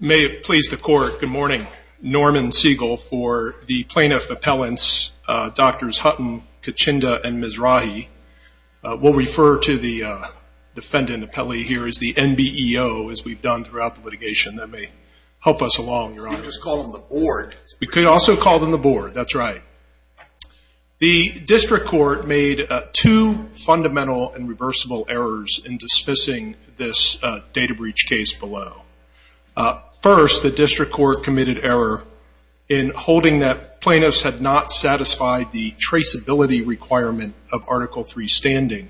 May it please the Court, good morning. Norman Siegel for the Plaintiff Appellants Drs. Hutton, Kachinda and Mizrahi. We'll refer to the defendant appellee here as the NBEO as we've done throughout the litigation. That may help us along, Your Honor. You could just call them the board. We could also call them the board, that's right. The District Court made two fundamental and reversible errors in dismissing this data breach case below. First, the District Court committed error in holding that plaintiffs had not satisfied the traceability requirement of Article III standing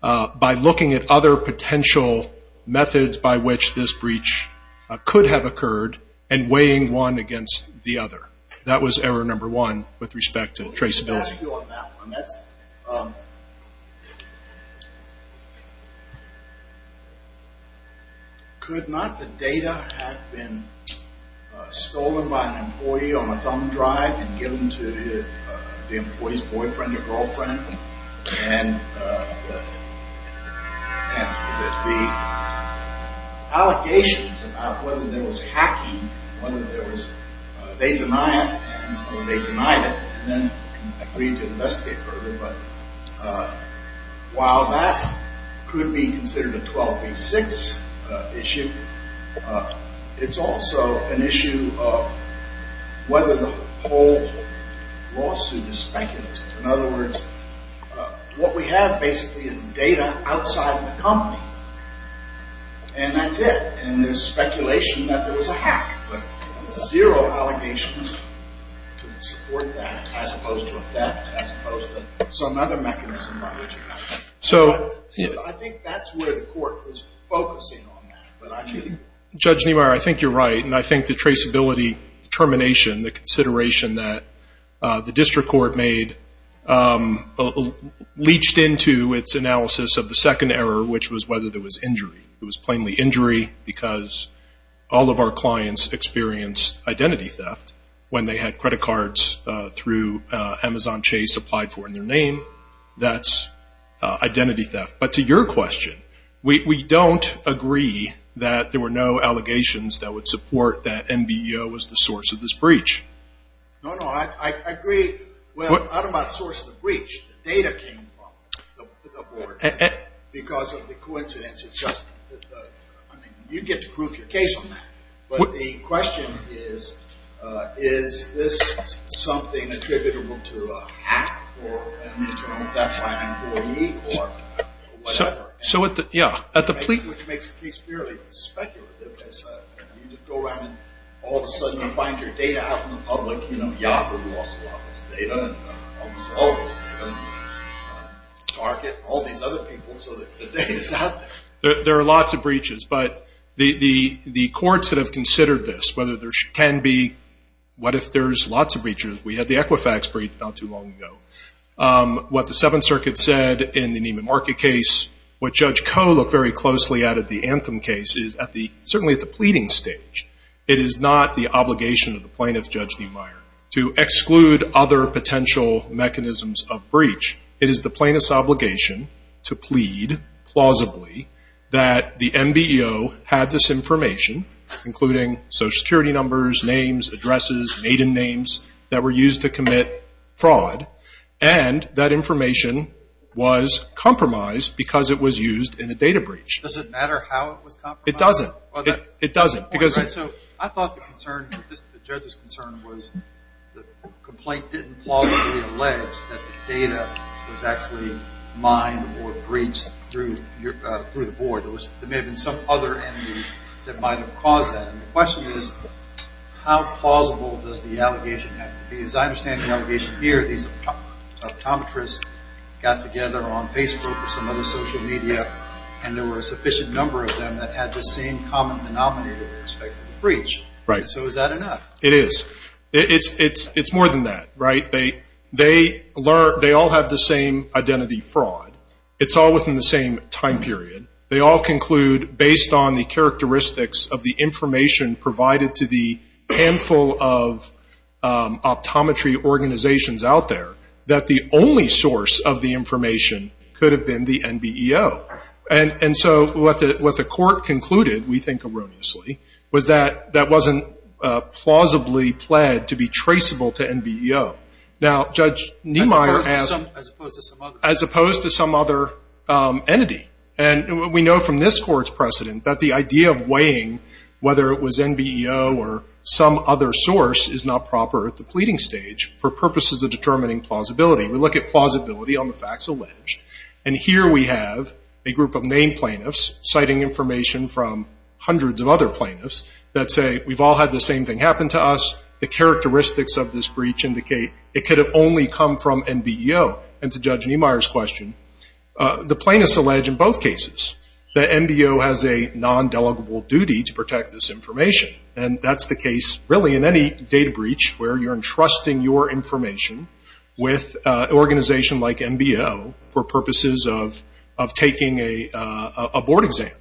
by looking at other potential methods by which this breach could have occurred and weighing one against the other. That was error number one with respect to traceability. Thank you on that one. Could not the data have been stolen by an employee on a thumb drive and given to the employee's boyfriend or girlfriend? And the allegations about whether there was hacking, whether they denied it and then agreed to investigate further, while that could be considered a 12 v. 6 issue, it's also an issue of whether the whole lawsuit is speculative. In other words, what we have basically is data outside of the company. And that's it. And there's speculation that there was a hack. But zero allegations to support that as opposed to a theft, as opposed to some other mechanism by which it happened. I think that's where the court was focusing on that. Judge Niemeyer, I think you're right. And I think the traceability determination, the consideration that the District Court made, leached into its analysis of the second error, which was whether there was injury. It was plainly injury because all of our clients experienced identity theft when they had credit cards through Amazon Chase applied for in their name. That's identity theft. But to your question, we don't agree that there were no allegations that would support that MBO was the source of this breach. No, no, I agree. Well, not about the source of the breach. The data came from the board. Because of the coincidence. You get to prove your case on that. But the question is, is this something attributable to a hack or an internal theft by an employee or whatever? Which makes the case fairly speculative. You go around and all of a sudden you find your data out in the public. Yahoo lost a lot of its data. Target, all these other people. So the data's out there. There are lots of breaches. But the courts that have considered this, whether there can be, what if there's lots of breaches. We had the Equifax breach not too long ago. What the Seventh Circuit said in the Nieman Market case, what Judge Koh looked very closely at in the Anthem case is certainly at the pleading stage. It is not the obligation of the plaintiff, Judge Niemeyer, to exclude other potential mechanisms of breach. It is the plaintiff's obligation to plead plausibly that the MBO had this information, including social security numbers, names, addresses, maiden names, that were used to commit fraud. And that information was compromised because it was used in a data breach. Does it matter how it was compromised? It doesn't. It doesn't. I thought the judge's concern was the complaint didn't plausibly allege that the data was actually mined or breached through the board. There may have been some other entity that might have caused that. The question is how plausible does the allegation have to be? As I understand the allegation here, these optometrists got together on Facebook or some other social media, and there were a sufficient number of them that had the same common denominator with respect to the breach. So is that enough? It is. It's more than that. They all have the same identity fraud. It's all within the same time period. They all conclude, based on the characteristics of the information provided to the handful of optometry organizations out there, that the only source of the information could have been the MBO. And so what the court concluded, we think erroneously, was that that wasn't plausibly pled to be traceable to MBO. Now, Judge Niemeyer asked, as opposed to some other entity, and we know from this court's precedent that the idea of weighing whether it was MBO or some other source is not proper at the pleading stage for purposes of determining plausibility. We look at plausibility on the facts alleged, and here we have a group of main plaintiffs citing information from hundreds of other plaintiffs that say, we've all had the same thing happen to us. The characteristics of this breach indicate it could have only come from MBO. And to Judge Niemeyer's question, the plaintiffs allege, in both cases, that MBO has a non-delegable duty to protect this information. And that's the case, really, in any data breach where you're entrusting your information with an organization like MBO for purposes of taking a board exam.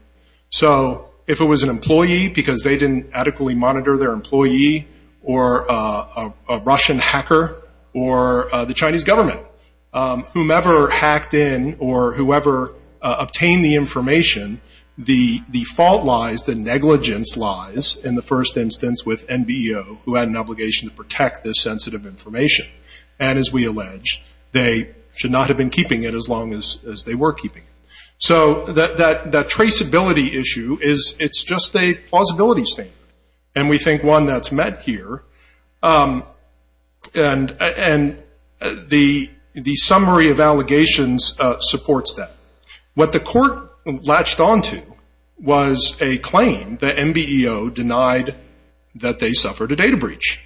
So if it was an employee, because they didn't adequately monitor their employee, or a Russian hacker, or the Chinese government, whomever hacked in or whoever obtained the information, the fault lies, the negligence lies, in the first instance, with MBO, who had an obligation to protect this sensitive information. And as we allege, they should not have been keeping it as long as they were keeping it. So that traceability issue, it's just a plausibility statement. And we think one that's met here. And the summary of allegations supports that. What the court latched onto was a claim that MBO denied that they suffered a data breach.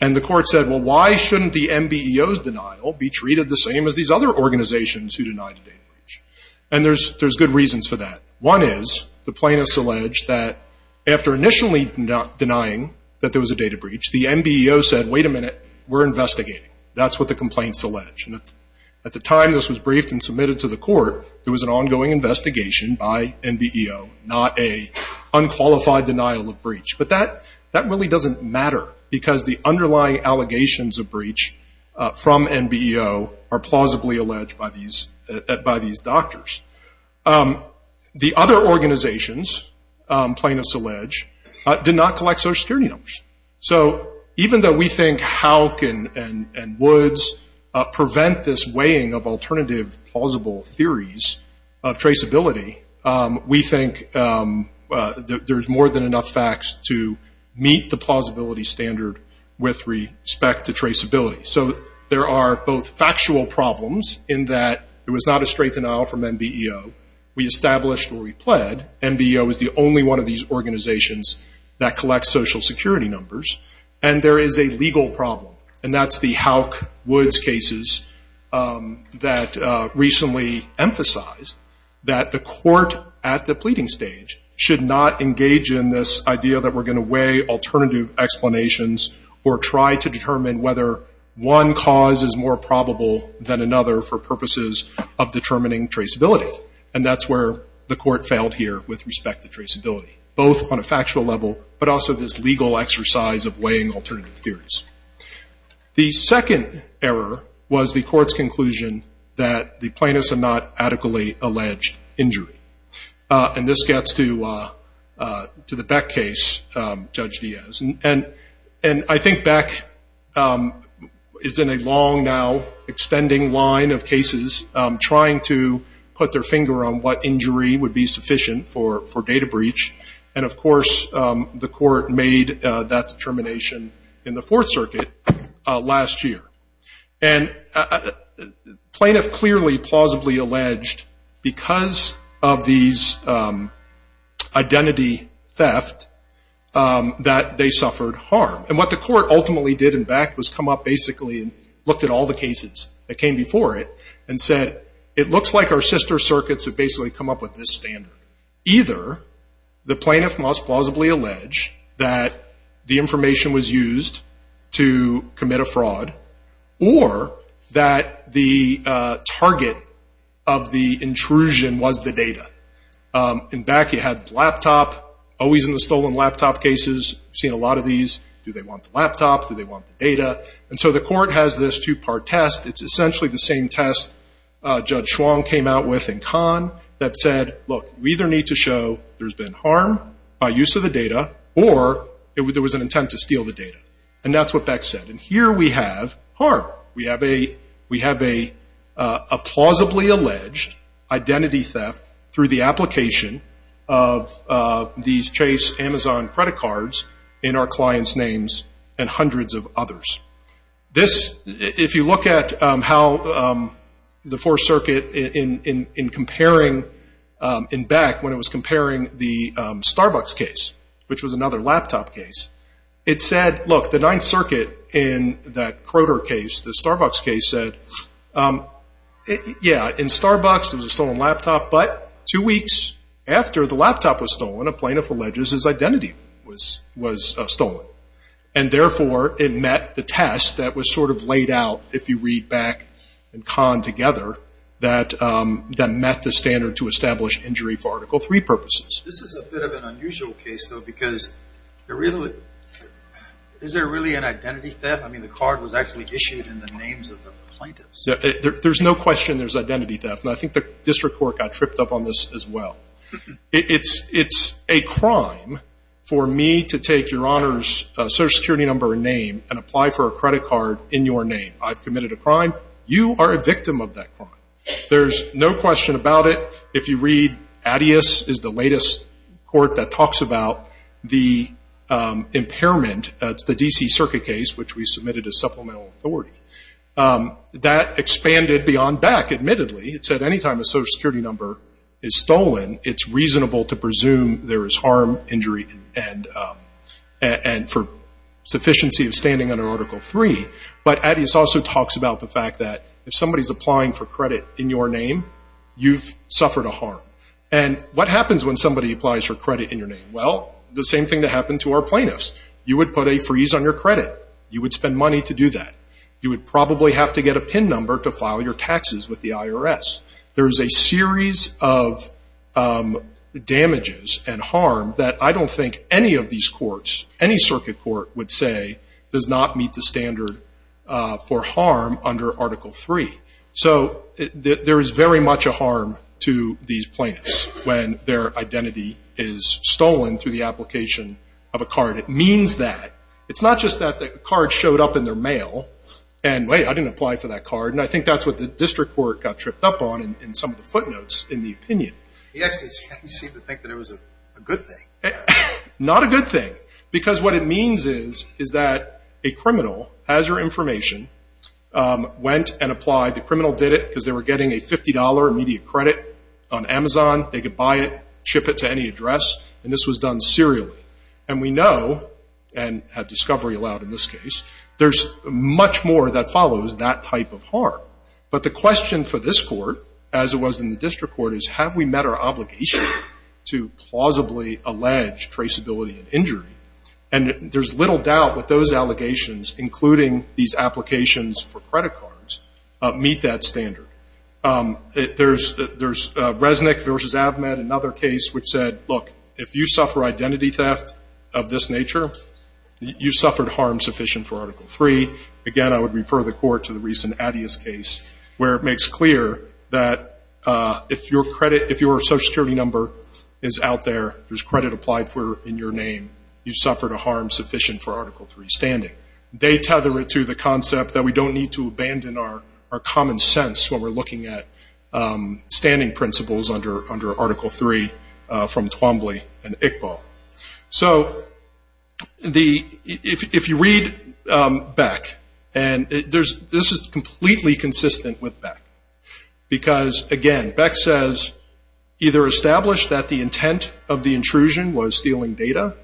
And the court said, well, why shouldn't the MBO's denial be treated the same as these other organizations who denied a data breach? And there's good reasons for that. One is the plaintiffs allege that after initially denying that there was a data breach, the MBO said, wait a minute, we're investigating. That's what the complaints allege. And at the time this was briefed and submitted to the court, there was an ongoing investigation by MBO, not a unqualified denial of breach. But that really doesn't matter because the underlying allegations of breach from MBO are plausibly alleged by these doctors. The other organizations, plaintiffs allege, did not collect Social Security numbers. So even though we think HALC and Woods prevent this weighing of alternative plausible theories of traceability, we think there's more than enough facts to meet the plausibility standard with respect to traceability. So there are both factual problems in that it was not a straight denial from MBO. We established where we pled. MBO is the only one of these organizations that collects Social Security numbers. And there is a legal problem, and that's the HALC-Woods cases that recently emphasized that the court at the pleading stage should not engage in this idea that we're going to weigh alternative explanations or try to determine whether one cause is more probable than another for purposes of determining traceability. And that's where the court failed here with respect to traceability, both on a factual level, but also this legal exercise of weighing alternative theories. The second error was the court's conclusion that the plaintiffs had not adequately alleged injury. And this gets to the Beck case, Judge Diaz. And I think Beck is in a long now extending line of cases trying to put their finger on what injury would be sufficient for data breach. And, of course, the court made that determination in the Fourth Circuit last year. And plaintiff clearly plausibly alleged because of these identity theft that they suffered harm. And what the court ultimately did in Beck was come up basically and looked at all the cases that came before it and said it looks like our sister circuits have basically come up with this standard. Either the plaintiff must plausibly allege that the information was used to commit a fraud or that the target of the intrusion was the data. In Beck you had the laptop, always in the stolen laptop cases, seen a lot of these. Do they want the laptop? Do they want the data? And so the court has this two-part test. It's essentially the same test Judge Schwong came out with in Kahn that said, look, we either need to show there's been harm by use of the data or there was an intent to steal the data. And that's what Beck said. And here we have harm. We have a plausibly alleged identity theft through the application of these Chase Amazon credit cards in our clients' names and hundreds of others. If you look at how the Fourth Circuit in comparing in Beck when it was comparing the Starbucks case, which was another laptop case, it said, look, the Ninth Circuit in that Croter case, the Starbucks case, said, yeah, in Starbucks it was a stolen laptop, but two weeks after the laptop was stolen, a plaintiff alleges his identity was stolen. And, therefore, it met the test that was sort of laid out, if you read Beck and Kahn together, that met the standard to establish injury for Article III purposes. This is a bit of an unusual case, though, because is there really an identity theft? I mean, the card was actually issued in the names of the plaintiffs. There's no question there's identity theft. And I think the district court got tripped up on this as well. It's a crime for me to take your Honor's Social Security number and name and apply for a credit card in your name. I've committed a crime. You are a victim of that crime. There's no question about it. If you read Addias, it's the latest court that talks about the impairment, the D.C. Circuit case, which we submitted as supplemental authority. That expanded beyond Beck, admittedly. It said any time a Social Security number is stolen, it's reasonable to presume there is harm, injury, and for sufficiency of standing under Article III. But Addias also talks about the fact that if somebody's applying for credit in your name, you've suffered a harm. And what happens when somebody applies for credit in your name? Well, the same thing that happened to our plaintiffs. You would put a freeze on your credit. You would spend money to do that. You would probably have to get a PIN number to file your taxes with the IRS. There is a series of damages and harm that I don't think any of these courts, any circuit court, would say does not meet the standard for harm under Article III. So there is very much a harm to these plaintiffs when their identity is stolen through the application of a card. It means that. It's not just that the card showed up in their mail and, wait, I didn't apply for that card, and I think that's what the district court got tripped up on in some of the footnotes in the opinion. He actually seemed to think that it was a good thing. Not a good thing because what it means is that a criminal has your information, went and applied. The criminal did it because they were getting a $50 immediate credit on Amazon. They could buy it, ship it to any address, and this was done serially. And we know, and had discovery allowed in this case, there's much more that follows that type of harm. But the question for this court, as it was in the district court, is have we met our obligation to plausibly allege traceability and injury? And there's little doubt that those allegations, including these applications for credit cards, meet that standard. There's Resnick v. Avmed, another case, which said, look, if you suffer identity theft of this nature, you suffered harm sufficient for Article III. Again, I would refer the court to the recent Addias case, where it makes clear that if your Social Security number is out there, there's credit applied in your name, you suffered a harm sufficient for Article III standing. They tether it to the concept that we don't need to abandon our common sense when we're looking at standing principles under Article III from Twombly and Iqbal. So if you read Beck, and this is completely consistent with Beck, because, again, Beck says either establish that the intent of the intrusion was stealing data.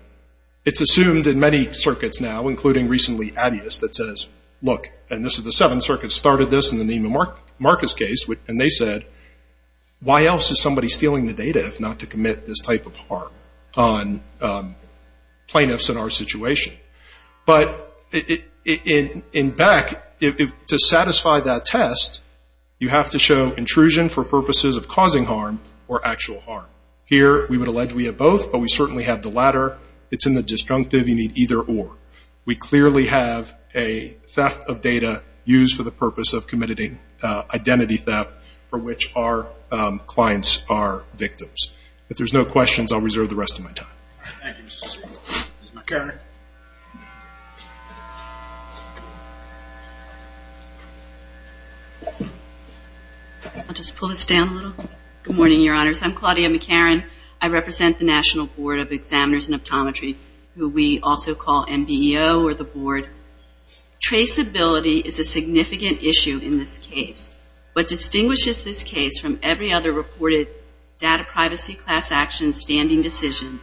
It's assumed in many circuits now, including recently Addias, that says, look, and this is the Seventh Circuit started this in the Neiman Marcus case, and they said, why else is somebody stealing the data if not to commit this type of harm on plaintiffs in our situation? But in Beck, to satisfy that test, you have to show intrusion for purposes of causing harm or actual harm. Here, we would allege we have both, but we certainly have the latter. It's in the disjunctive. You need either or. We clearly have a theft of data used for the purpose of committing identity theft for which our clients are victims. If there's no questions, I'll reserve the rest of my time. Thank you, Mr. Speaker. Ms. McCarrick. I'll just pull this down a little. Good morning, Your Honors. I'm Claudia McCarrick. I represent the National Board of Examiners and Optometry, who we also call MBEO or the board. Traceability is a significant issue in this case. What distinguishes this case from every other reported data privacy class action standing decision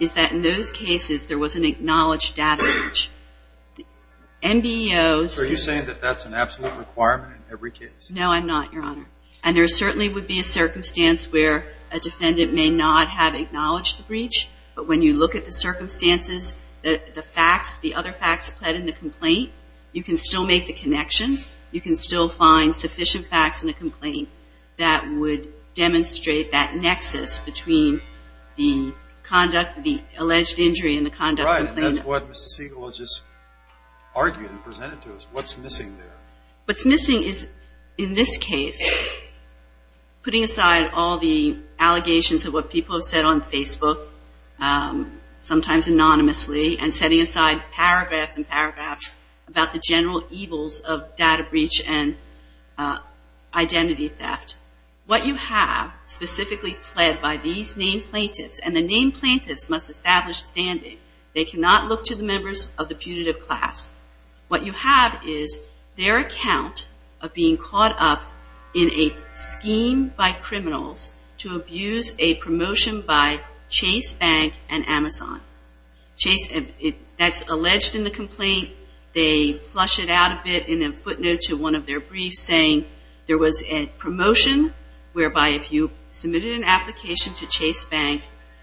is that in those cases, there was an acknowledged data breach. MBEOs. Are you saying that that's an absolute requirement in every case? No, I'm not, Your Honor. And there certainly would be a circumstance where a defendant may not have acknowledged the breach, but when you look at the circumstances, the facts, the other facts applied in the complaint, you can still make the connection. You can still find sufficient facts in the complaint that would demonstrate that nexus between the conduct, the alleged injury and the conduct of the complaint. Right. And that's what Mr. Siegel has just argued and presented to us. What's missing there? What's missing is, in this case, putting aside all the allegations of what people have said on Facebook, sometimes anonymously, and setting aside paragraphs and paragraphs about the general evils of data breach and identity theft. What you have specifically pled by these named plaintiffs, and the named plaintiffs must establish standing. They cannot look to the members of the punitive class. What you have is their account of being caught up in a scheme by criminals to abuse a promotion by Chase Bank and Amazon. That's alleged in the complaint. They flush it out a bit in a footnote to one of their briefs saying there was a promotion whereby if you submitted an application to Chase Bank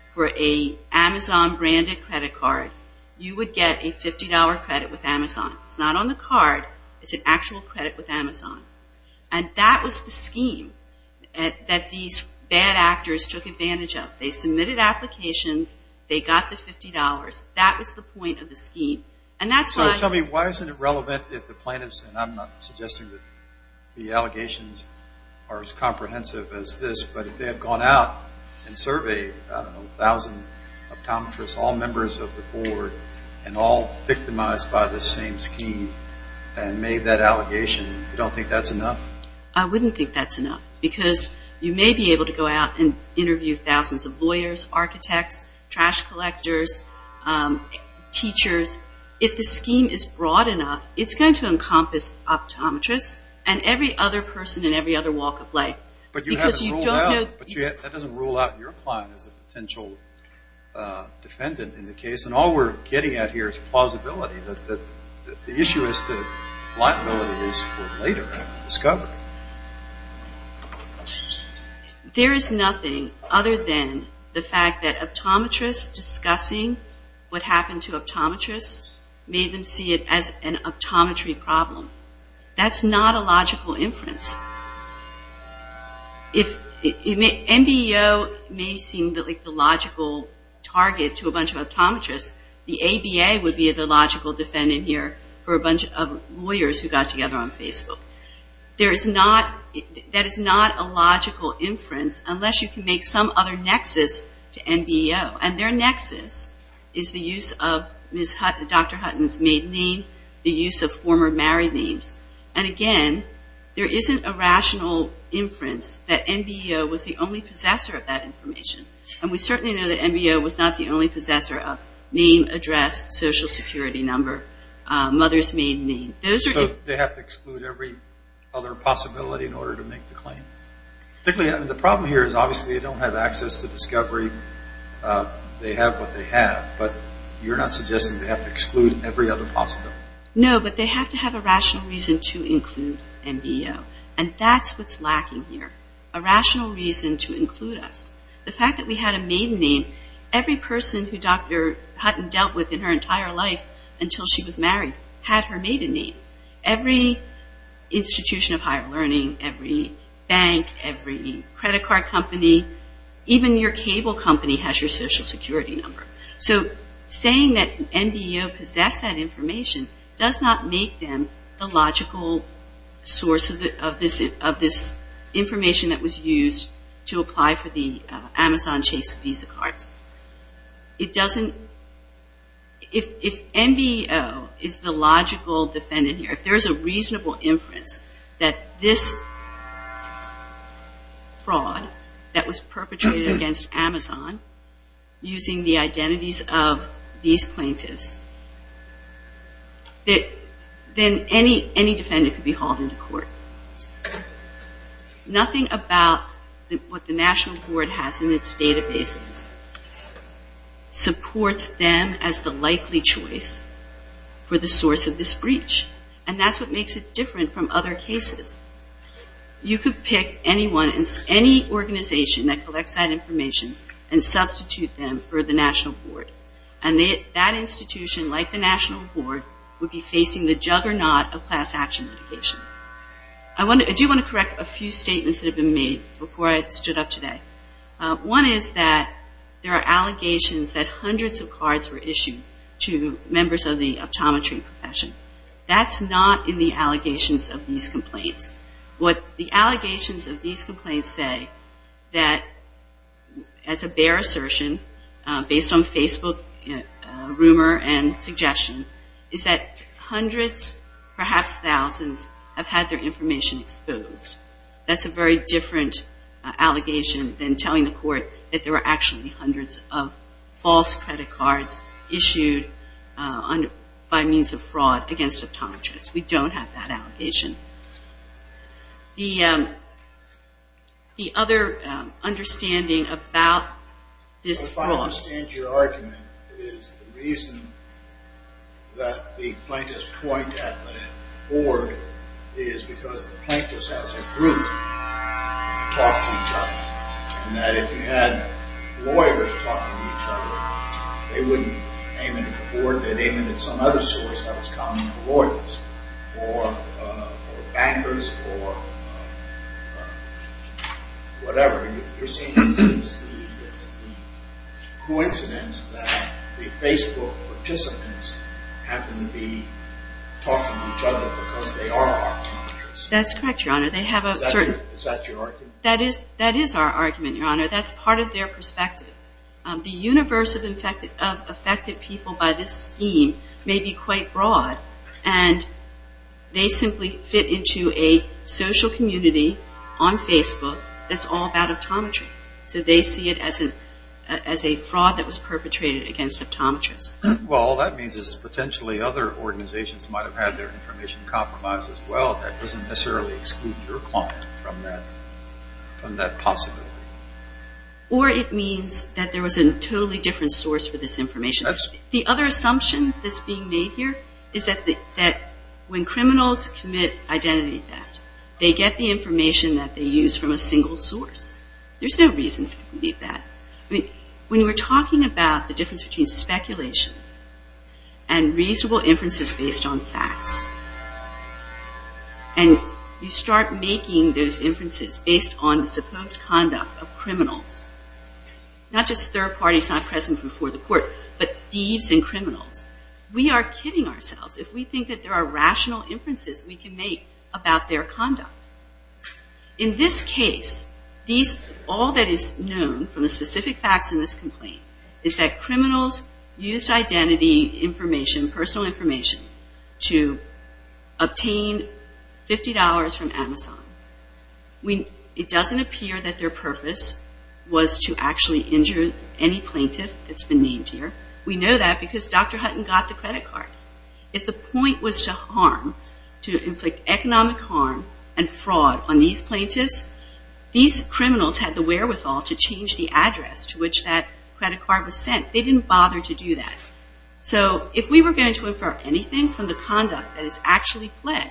for an Amazon branded credit card, you would get a $50 credit with Amazon. It's not on the card. It's an actual credit with Amazon. And that was the scheme that these bad actors took advantage of. They submitted applications. They got the $50. That was the point of the scheme. And that's why – So tell me, why isn't it relevant if the plaintiffs, and I'm not suggesting that the allegations are as comprehensive as this, but if they have gone out and surveyed a thousand optometrists, all members of the board, and all victimized by the same scheme and made that allegation, you don't think that's enough? I wouldn't think that's enough because you may be able to go out and interview thousands of lawyers, architects, trash collectors, teachers. If the scheme is broad enough, it's going to encompass optometrists and every other person in every other walk of life. But that doesn't rule out your client as a potential defendant in the case, and all we're getting at here is plausibility, that the issue is that liabilities were later discovered. There is nothing other than the fact that optometrists discussing what happened to optometrists made them see it as an optometry problem. That's not a logical inference. If NBEO may seem like the logical target to a bunch of optometrists, the ABA would be the logical defendant here for a bunch of lawyers who got together on Facebook. That is not a logical inference unless you can make some other nexus to NBEO, and their nexus is the use of Dr. Hutton's maiden name, the use of former married names. Again, there isn't a rational inference that NBEO was the only possessor of that information. We certainly know that NBEO was not the only possessor of name, address, social security number, mother's maiden name. They have to exclude every other possibility in order to make the claim. The problem here is obviously they don't have access to discovery. They have what they have, but you're not suggesting they have to exclude every other possibility. No, but they have to have a rational reason to include NBEO, and that's what's lacking here, a rational reason to include us. The fact that we had a maiden name, every person who Dr. Hutton dealt with in her entire life until she was married had her maiden name. Every institution of higher learning, every bank, every credit card company, even your cable company has your social security number. So saying that NBEO possessed that information does not make them the logical source of this information that was used to apply for the Amazon Chase Visa cards. It doesn't – if NBEO is the logical defendant here, if there's a reasonable inference that this fraud that was perpetrated against Amazon using the identities of these plaintiffs, then any defendant could be hauled into court. Nothing about what the National Board has in its databases supports them as the likely choice for the source of this breach, and that's what makes it different from other cases. You could pick anyone, any organization that collects that information and substitute them for the National Board, and that institution, like the National Board, would be facing the juggernaut of class action litigation. I do want to correct a few statements that have been made before I stood up today. One is that there are allegations that hundreds of cards were issued to members of the optometry profession. That's not in the allegations of these complaints. What the allegations of these complaints say that, as a bare assertion, based on Facebook rumor and suggestion, is that hundreds, perhaps thousands, have had their information exposed. That's a very different allegation than telling the court that there were actually hundreds of false credit cards issued by means of fraud against optometrists. We don't have that allegation. The other understanding about this fraud... If I understand your argument, it is the reason that the plaintiffs point at the board is because the plaintiffs as a group talk to each other, and that if you had lawyers talking to each other, they wouldn't aim it at the board. They'd aim it at some other source that was common to lawyers or bankers or whatever. You're saying it's a coincidence that the Facebook participants happen to be talking to each other because they are optometrists. That's correct, Your Honor. Is that your argument? That is our argument, Your Honor. That's part of their perspective. The universe of affected people by this scheme may be quite broad, and they simply fit into a social community on Facebook that's all about optometry. So they see it as a fraud that was perpetrated against optometrists. Well, all that means is potentially other organizations might have had their information compromised as well. That doesn't necessarily exclude your client from that possibility. Or it means that there was a totally different source for this information. The other assumption that's being made here is that when criminals commit identity theft, they get the information that they use from a single source. There's no reason for them to do that. When we're talking about the difference between speculation and reasonable inferences based on facts, and you start making those inferences based on the supposed conduct of criminals, not just third parties not present before the court, but thieves and criminals, we are kidding ourselves if we think that there are rational inferences we can make about their conduct. In this case, all that is known from the specific facts in this complaint is that criminals used identity information, personal information, to obtain $50 from Amazon. It doesn't appear that their purpose was to actually injure any plaintiff that's been named here. We know that because Dr. Hutton got the credit card. If the point was to harm, to inflict economic harm and fraud on these plaintiffs, these criminals had the wherewithal to change the address to which that credit card was sent. They didn't bother to do that. If we were going to infer anything from the conduct that is actually pled,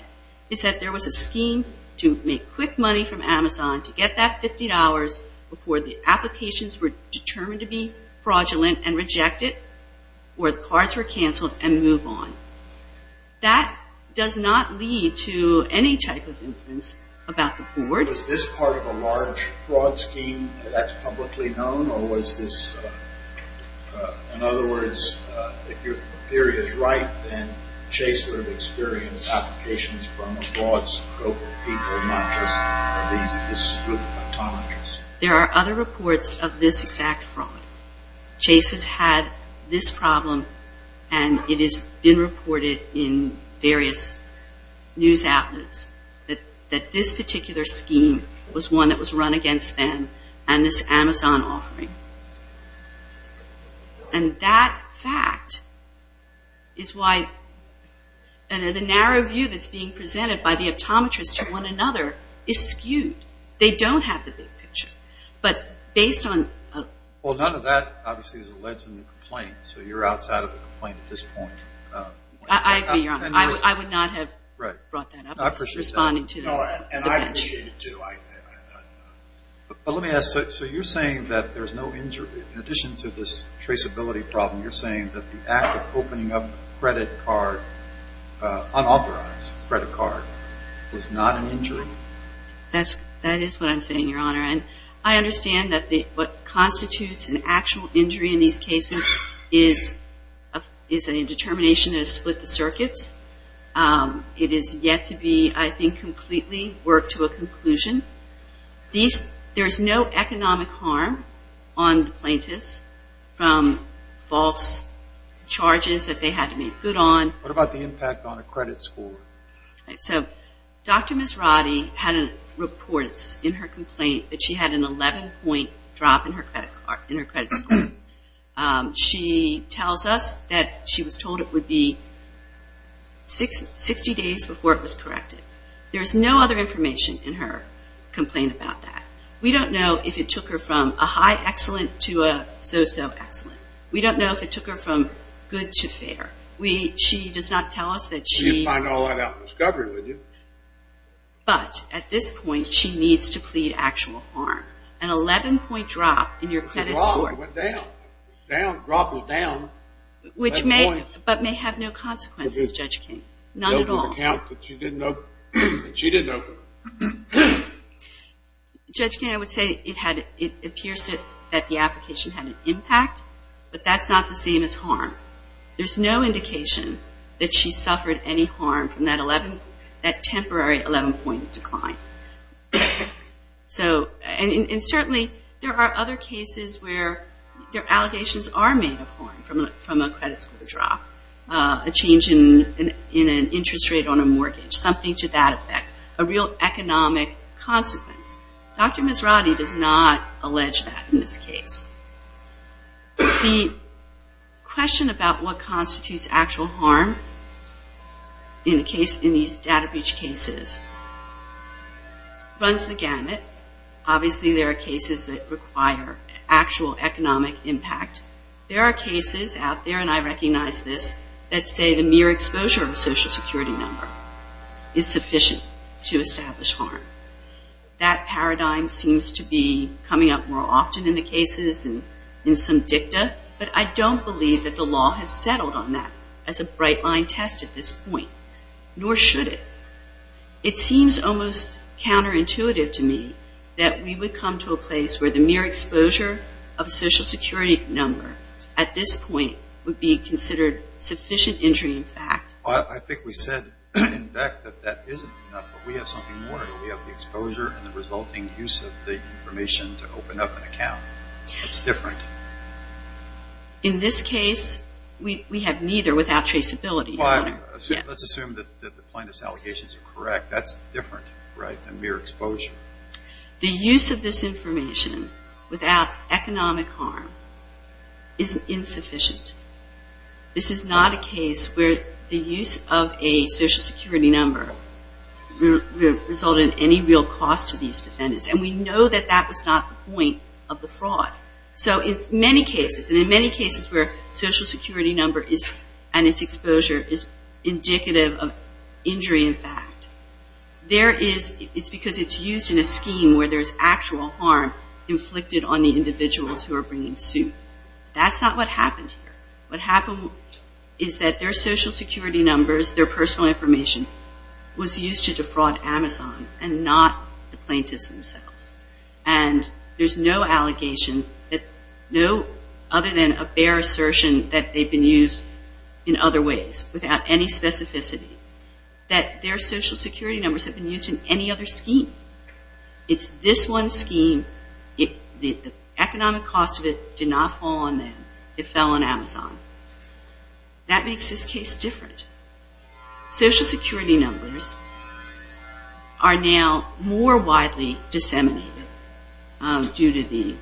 it's that there was a scheme to make quick money from Amazon to get that $50 before the applications were determined to be fraudulent and rejected, or the cards were canceled and moved on. That does not lead to any type of inference about the board. Was this part of a large fraud scheme that's publicly known, or was this, in other words, if your theory is right, then Chase would have experienced applications from a broad group of people, not just this group of psychologists. There are other reports of this exact fraud. Chase has had this problem, and it has been reported in various news outlets that this particular scheme was one that was run against them and this Amazon offering. And that fact is why the narrow view that's being presented by the optometrists to one another is skewed. They don't have the big picture. But based on... Well, none of that, obviously, is alleged in the complaint, so you're outside of the complaint at this point. I agree, Your Honor. I would not have brought that up. I appreciate that. No, and I appreciate it, too. But let me ask, so you're saying that there's no injury. In addition to this traceability problem, you're saying that the act of opening up an unauthorized credit card was not an injury? That is what I'm saying, Your Honor. And I understand that what constitutes an actual injury in these cases is a determination that has split the circuits. It is yet to be, I think, completely worked to a conclusion. There's no economic harm on the plaintiffs from false charges that they had to make good on. What about the impact on a credit score? So Dr. Masradi had reports in her complaint that she had an 11-point drop in her credit score. She tells us that she was told it would be 60 days before it was corrected. There's no other information in her complaint about that. We don't know if it took her from a high excellent to a so-so excellent. We don't know if it took her from good to fair. She does not tell us that she... You'd find all that out in discovery, wouldn't you? But at this point, she needs to plead actual harm. An 11-point drop in your credit score. It went down. The drop was down. Which may, but may have no consequences, Judge King. None at all. Not with the account that she didn't open. Judge King, I would say it appears that the application had an impact, but that's not the same as harm. There's no indication that she suffered any harm from that temporary 11-point decline. And certainly, there are other cases where allegations are made of harm from a credit score drop. A change in an interest rate on a mortgage. Something to that effect. A real economic consequence. Dr. Misrati does not allege that in this case. The question about what constitutes actual harm in these data breach cases runs the gamut. Obviously, there are cases that require actual economic impact. There are cases out there, and I recognize this, that say the mere exposure of a Social Security number is sufficient to establish harm. That paradigm seems to be coming up more often in the cases and in some dicta, but I don't believe that the law has settled on that as a bright-line test at this point. Nor should it. It seems almost counterintuitive to me that we would come to a place where the mere exposure of a Social Security number at this point would be considered sufficient injury in fact. I think we said in fact that that isn't enough, but we have something more. We have the exposure and the resulting use of the information to open up an account. It's different. In this case, we have neither without traceability. Let's assume that the plaintiff's allegations are correct. That's different than mere exposure. The use of this information without economic harm is insufficient. This is not a case where the use of a Social Security number resulted in any real cost to these defendants, and we know that that was not the point of the fraud. So in many cases, and in many cases where a Social Security number and its exposure is indicative of injury in fact, it's because it's used in a scheme where there's actual harm inflicted on the individuals who are bringing suit. That's not what happened here. What happened is that their Social Security numbers, their personal information, was used to defraud Amazon and not the plaintiffs themselves. And there's no allegation other than a bare assertion that they've been used in other ways without any specificity that their Social Security numbers have been used in any other scheme. It's this one scheme. The economic cost of it did not fall on them. It fell on Amazon. That makes this case different. Social Security numbers are now more widely disseminated due to the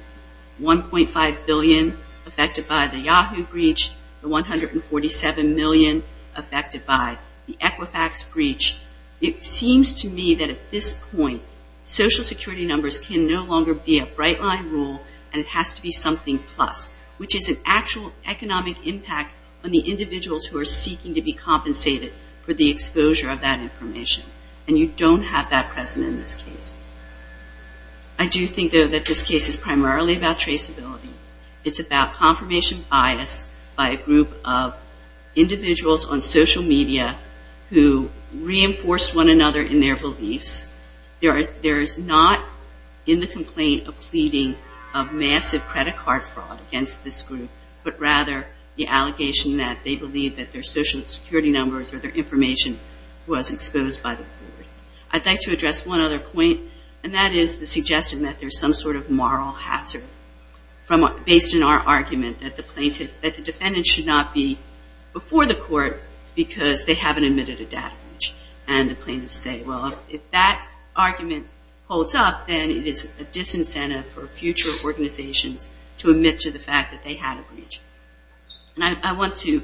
$1.5 billion affected by the Yahoo breach, the $147 million affected by the Equifax breach. It seems to me that at this point, Social Security numbers can no longer be a bright line rule, and it has to be something plus, which is an actual economic impact on the individuals who are seeking to be compensated for the exposure of that information. And you don't have that present in this case. I do think, though, that this case is primarily about traceability. It's about confirmation bias by a group of individuals on social media who reinforce one another in their beliefs. There is not in the complaint a pleading of massive credit card fraud against this group, but rather the allegation that they believe that their Social Security numbers or their information was exposed by the board. I'd like to address one other point, and that is the suggestion that there's some sort of moral hazard based in our argument that the defendant should not be before the court because they haven't admitted a data breach. And the plaintiffs say, well, if that argument holds up, then it is a disincentive for future organizations to admit to the fact that they had a breach. And I want to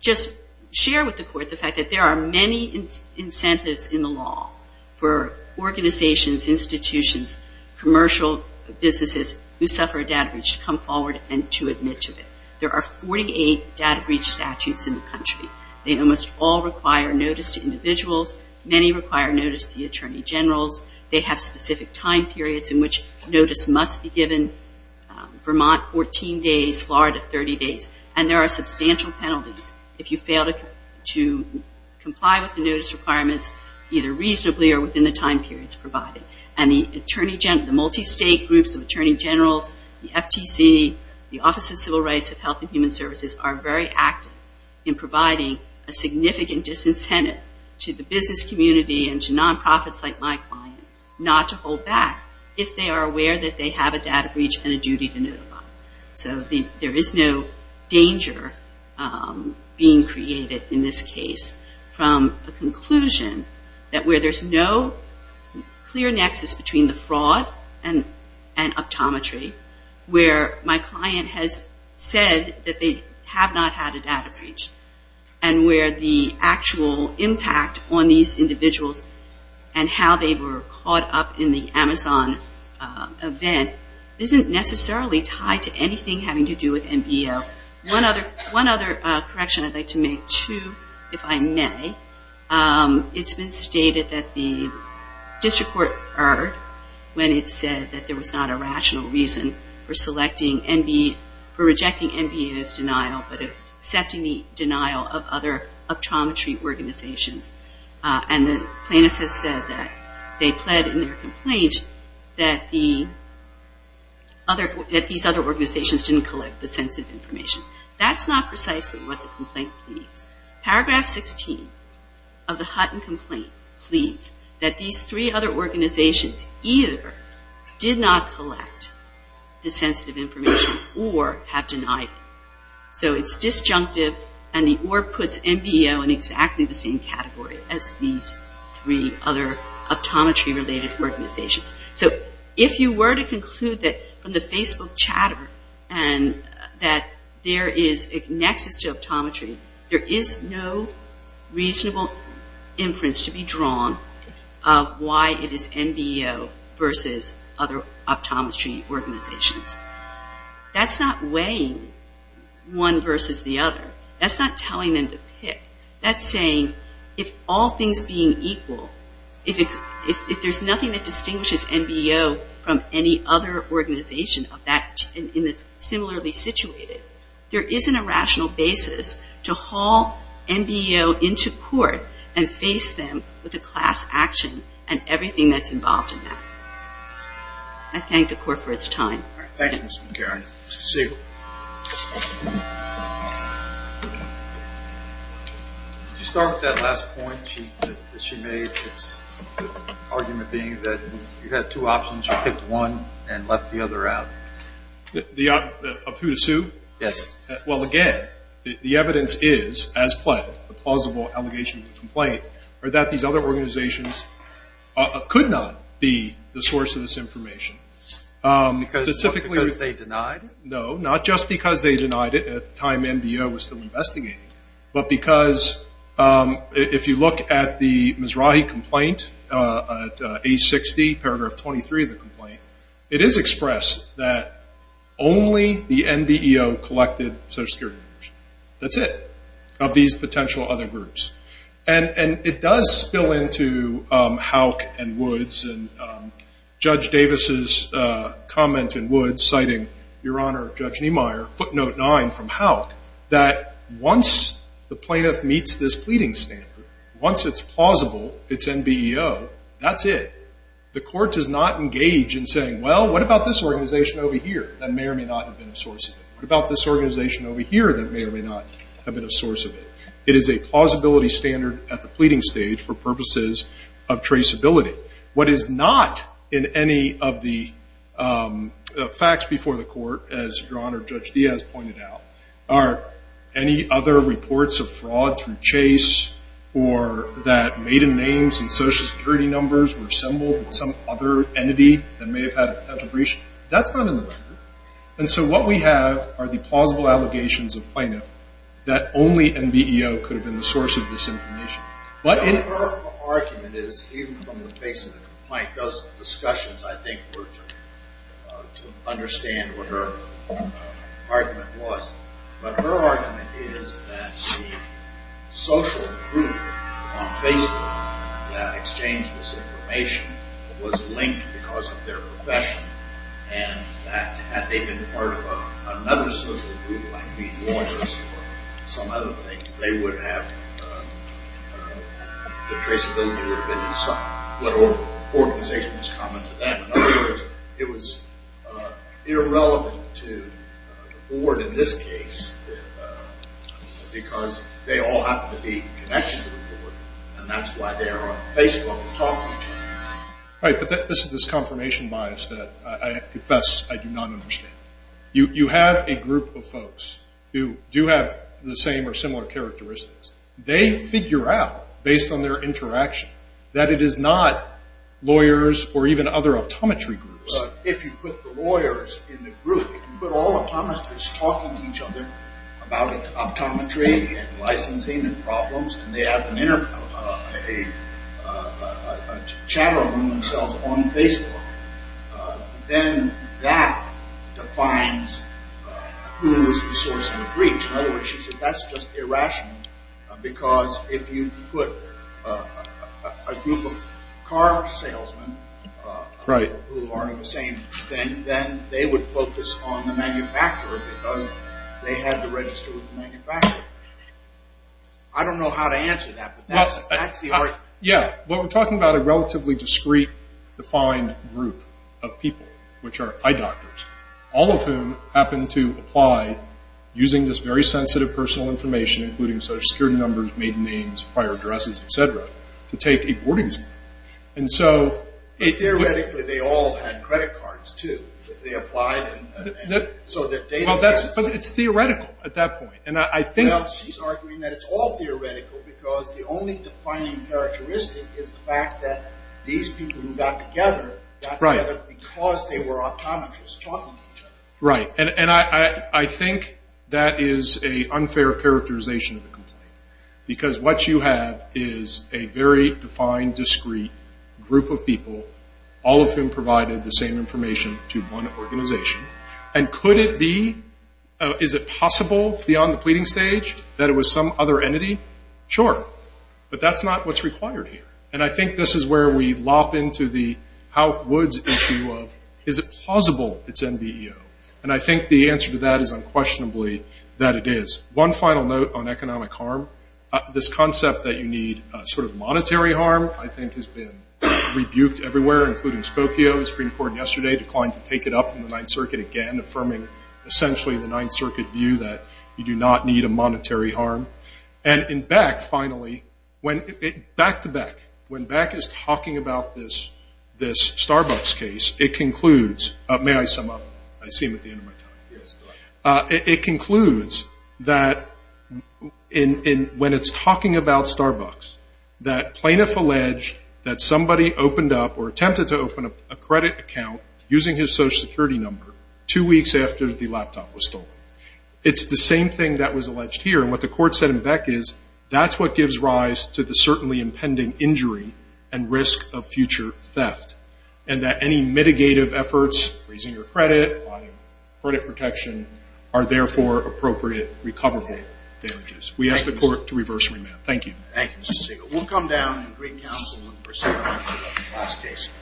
just share with the court the fact that there are many incentives in the law for organizations, institutions, commercial businesses who suffer a data breach to come forward and to admit to it. There are 48 data breach statutes in the country. They almost all require notice to individuals. Many require notice to the attorney generals. They have specific time periods in which notice must be given. Vermont, 14 days. Florida, 30 days. And there are substantial penalties if you fail to comply with the notice requirements either reasonably or within the time periods provided. And the multistate groups of attorney generals, the FTC, the Office of Civil Rights of Health and Human Services, are very active in providing a significant disincentive to the business community and to nonprofits like my client not to hold back if they are aware that they have a data breach and a duty to notify. So there is no danger being created in this case from a conclusion that where there's no clear nexus between the fraud and optometry, where my client has said that they have not had a data breach, and where the actual impact on these individuals and how they were caught up in the Amazon event isn't necessarily tied to anything having to do with NBO. One other correction I'd like to make, too, if I may. It's been stated that the district court erred when it said that there was not a rational reason for rejecting NBO's denial, but accepting the denial of other optometry organizations. And the plaintiffs have said that they pled in their complaint that these other organizations didn't collect the sensitive information. That's not precisely what the complaint pleads. Paragraph 16 of the Hutton complaint pleads that these three other organizations either did not collect the sensitive information or have denied it. So it's disjunctive and the or puts NBO in exactly the same category as these three other optometry-related organizations. So if you were to conclude that from the Facebook chatter and that there is a nexus to optometry, there is no reasonable inference to be drawn of why it is NBO versus other optometry organizations. That's not weighing one versus the other. That's not telling them to pick. That's saying if all things being equal, if there's nothing that distinguishes NBO from any other organization similarly situated, there isn't a rational basis to haul NBO into court and face them with a class action and everything that's involved in that. I thank the court for its time. Thank you, Ms. McCarran. Mr. Siegel. To start with that last point that she made, the argument being that you had two options. You picked one and left the other out. Of who to sue? Yes. the plausible allegation of the complaint are that these other organizations could not be the source of this information. Because they denied it? No, not just because they denied it at the time NBO was still investigating, but because if you look at the Mizrahi complaint, at age 60, paragraph 23 of the complaint, it is expressed that only the NBO collected social security numbers. That's it. Of these potential other groups. And it does spill into Houck and Woods and Judge Davis' comment in Woods, citing Your Honor, Judge Niemeyer, footnote 9 from Houck, that once the plaintiff meets this pleading standard, once it's plausible, it's NBO, that's it. The court does not engage in saying, well, what about this organization over here that may or may not have been a source of it? What about this organization over here that may or may not have been a source of it? It is a plausibility standard at the pleading stage for purposes of traceability. What is not in any of the facts before the court, as Your Honor, Judge Diaz pointed out, are any other reports of fraud through chase or that maiden names and social security numbers were assembled in some other entity that may have had a potential breach. That's not in the record. And so what we have are the plausible allegations of plaintiff that only NBO could have been the source of this information. But in her argument is, even from the face of the complaint, those discussions, I think, were to understand what her argument was. But her argument is that the social group on Facebook that exchanged this information was linked because of their profession and that had they been part of another social group, like meat and waters or some other things, they would have the traceability that would have been what organization was common to them. In other words, it was irrelevant to the board in this case because they all happen to be connected to the board and that's why they are on Facebook talking to each other. Right, but this is this confirmation bias that I confess I do not understand. You have a group of folks who do have the same or similar characteristics. They figure out, based on their interaction, that it is not lawyers or even other optometry groups. If you put the lawyers in the group, if you put all optometrists talking to each other about optometry and licensing and problems and they have a chat room themselves on Facebook, then that defines who is the source of the breach. In other words, she said that's just irrational because if you put a group of car salesmen who aren't of the same thing, then they would focus on the manufacturer because they had to register with the manufacturer. I don't know how to answer that, but that's the argument. Yeah, but we're talking about a relatively discreet, defined group of people, which are eye doctors, all of whom happen to apply, using this very sensitive personal information, including social security numbers, maiden names, prior addresses, etc., to take a board exam. Theoretically, they all had credit cards, too. They applied and so their data... She's arguing that it's all theoretical because the only defining characteristic is the fact that these people who got together got together because they were optometrists talking to each other. Right, and I think that is an unfair characterization of the complaint because what you have is a very defined, discreet group of people, all of whom provided the same information to one organization. And could it be... Is it possible, beyond the pleading stage, that it was some other entity? Sure, but that's not what's required here. And I think this is where we lop into the Howick Woods issue of is it plausible it's NBEO? And I think the answer to that is unquestionably that it is. One final note on economic harm. This concept that you need sort of monetary harm, I think, has been rebuked everywhere, including Spokio, the Supreme Court yesterday, declined to take it up in the Ninth Circuit again, affirming essentially the Ninth Circuit view that you do not need a monetary harm. And in Beck, finally, back-to-back, when Beck is talking about this Starbucks case, it concludes... May I sum up? I see him at the end of my time. It concludes that when it's talking about Starbucks, that plaintiff alleged that somebody opened up or attempted to open up a credit account using his Social Security number two weeks after the laptop was stolen. It's the same thing that was alleged here, and what the Court said in Beck is that's what gives rise to the certainly impending injury and risk of future theft, and that any mitigative efforts, freezing your credit, buying credit protection, are therefore appropriate recoverable damages. We ask the Court to reverse remand. Thank you. Thank you, Mr. Segal. We'll come down to the Great Council and proceed on to the last case.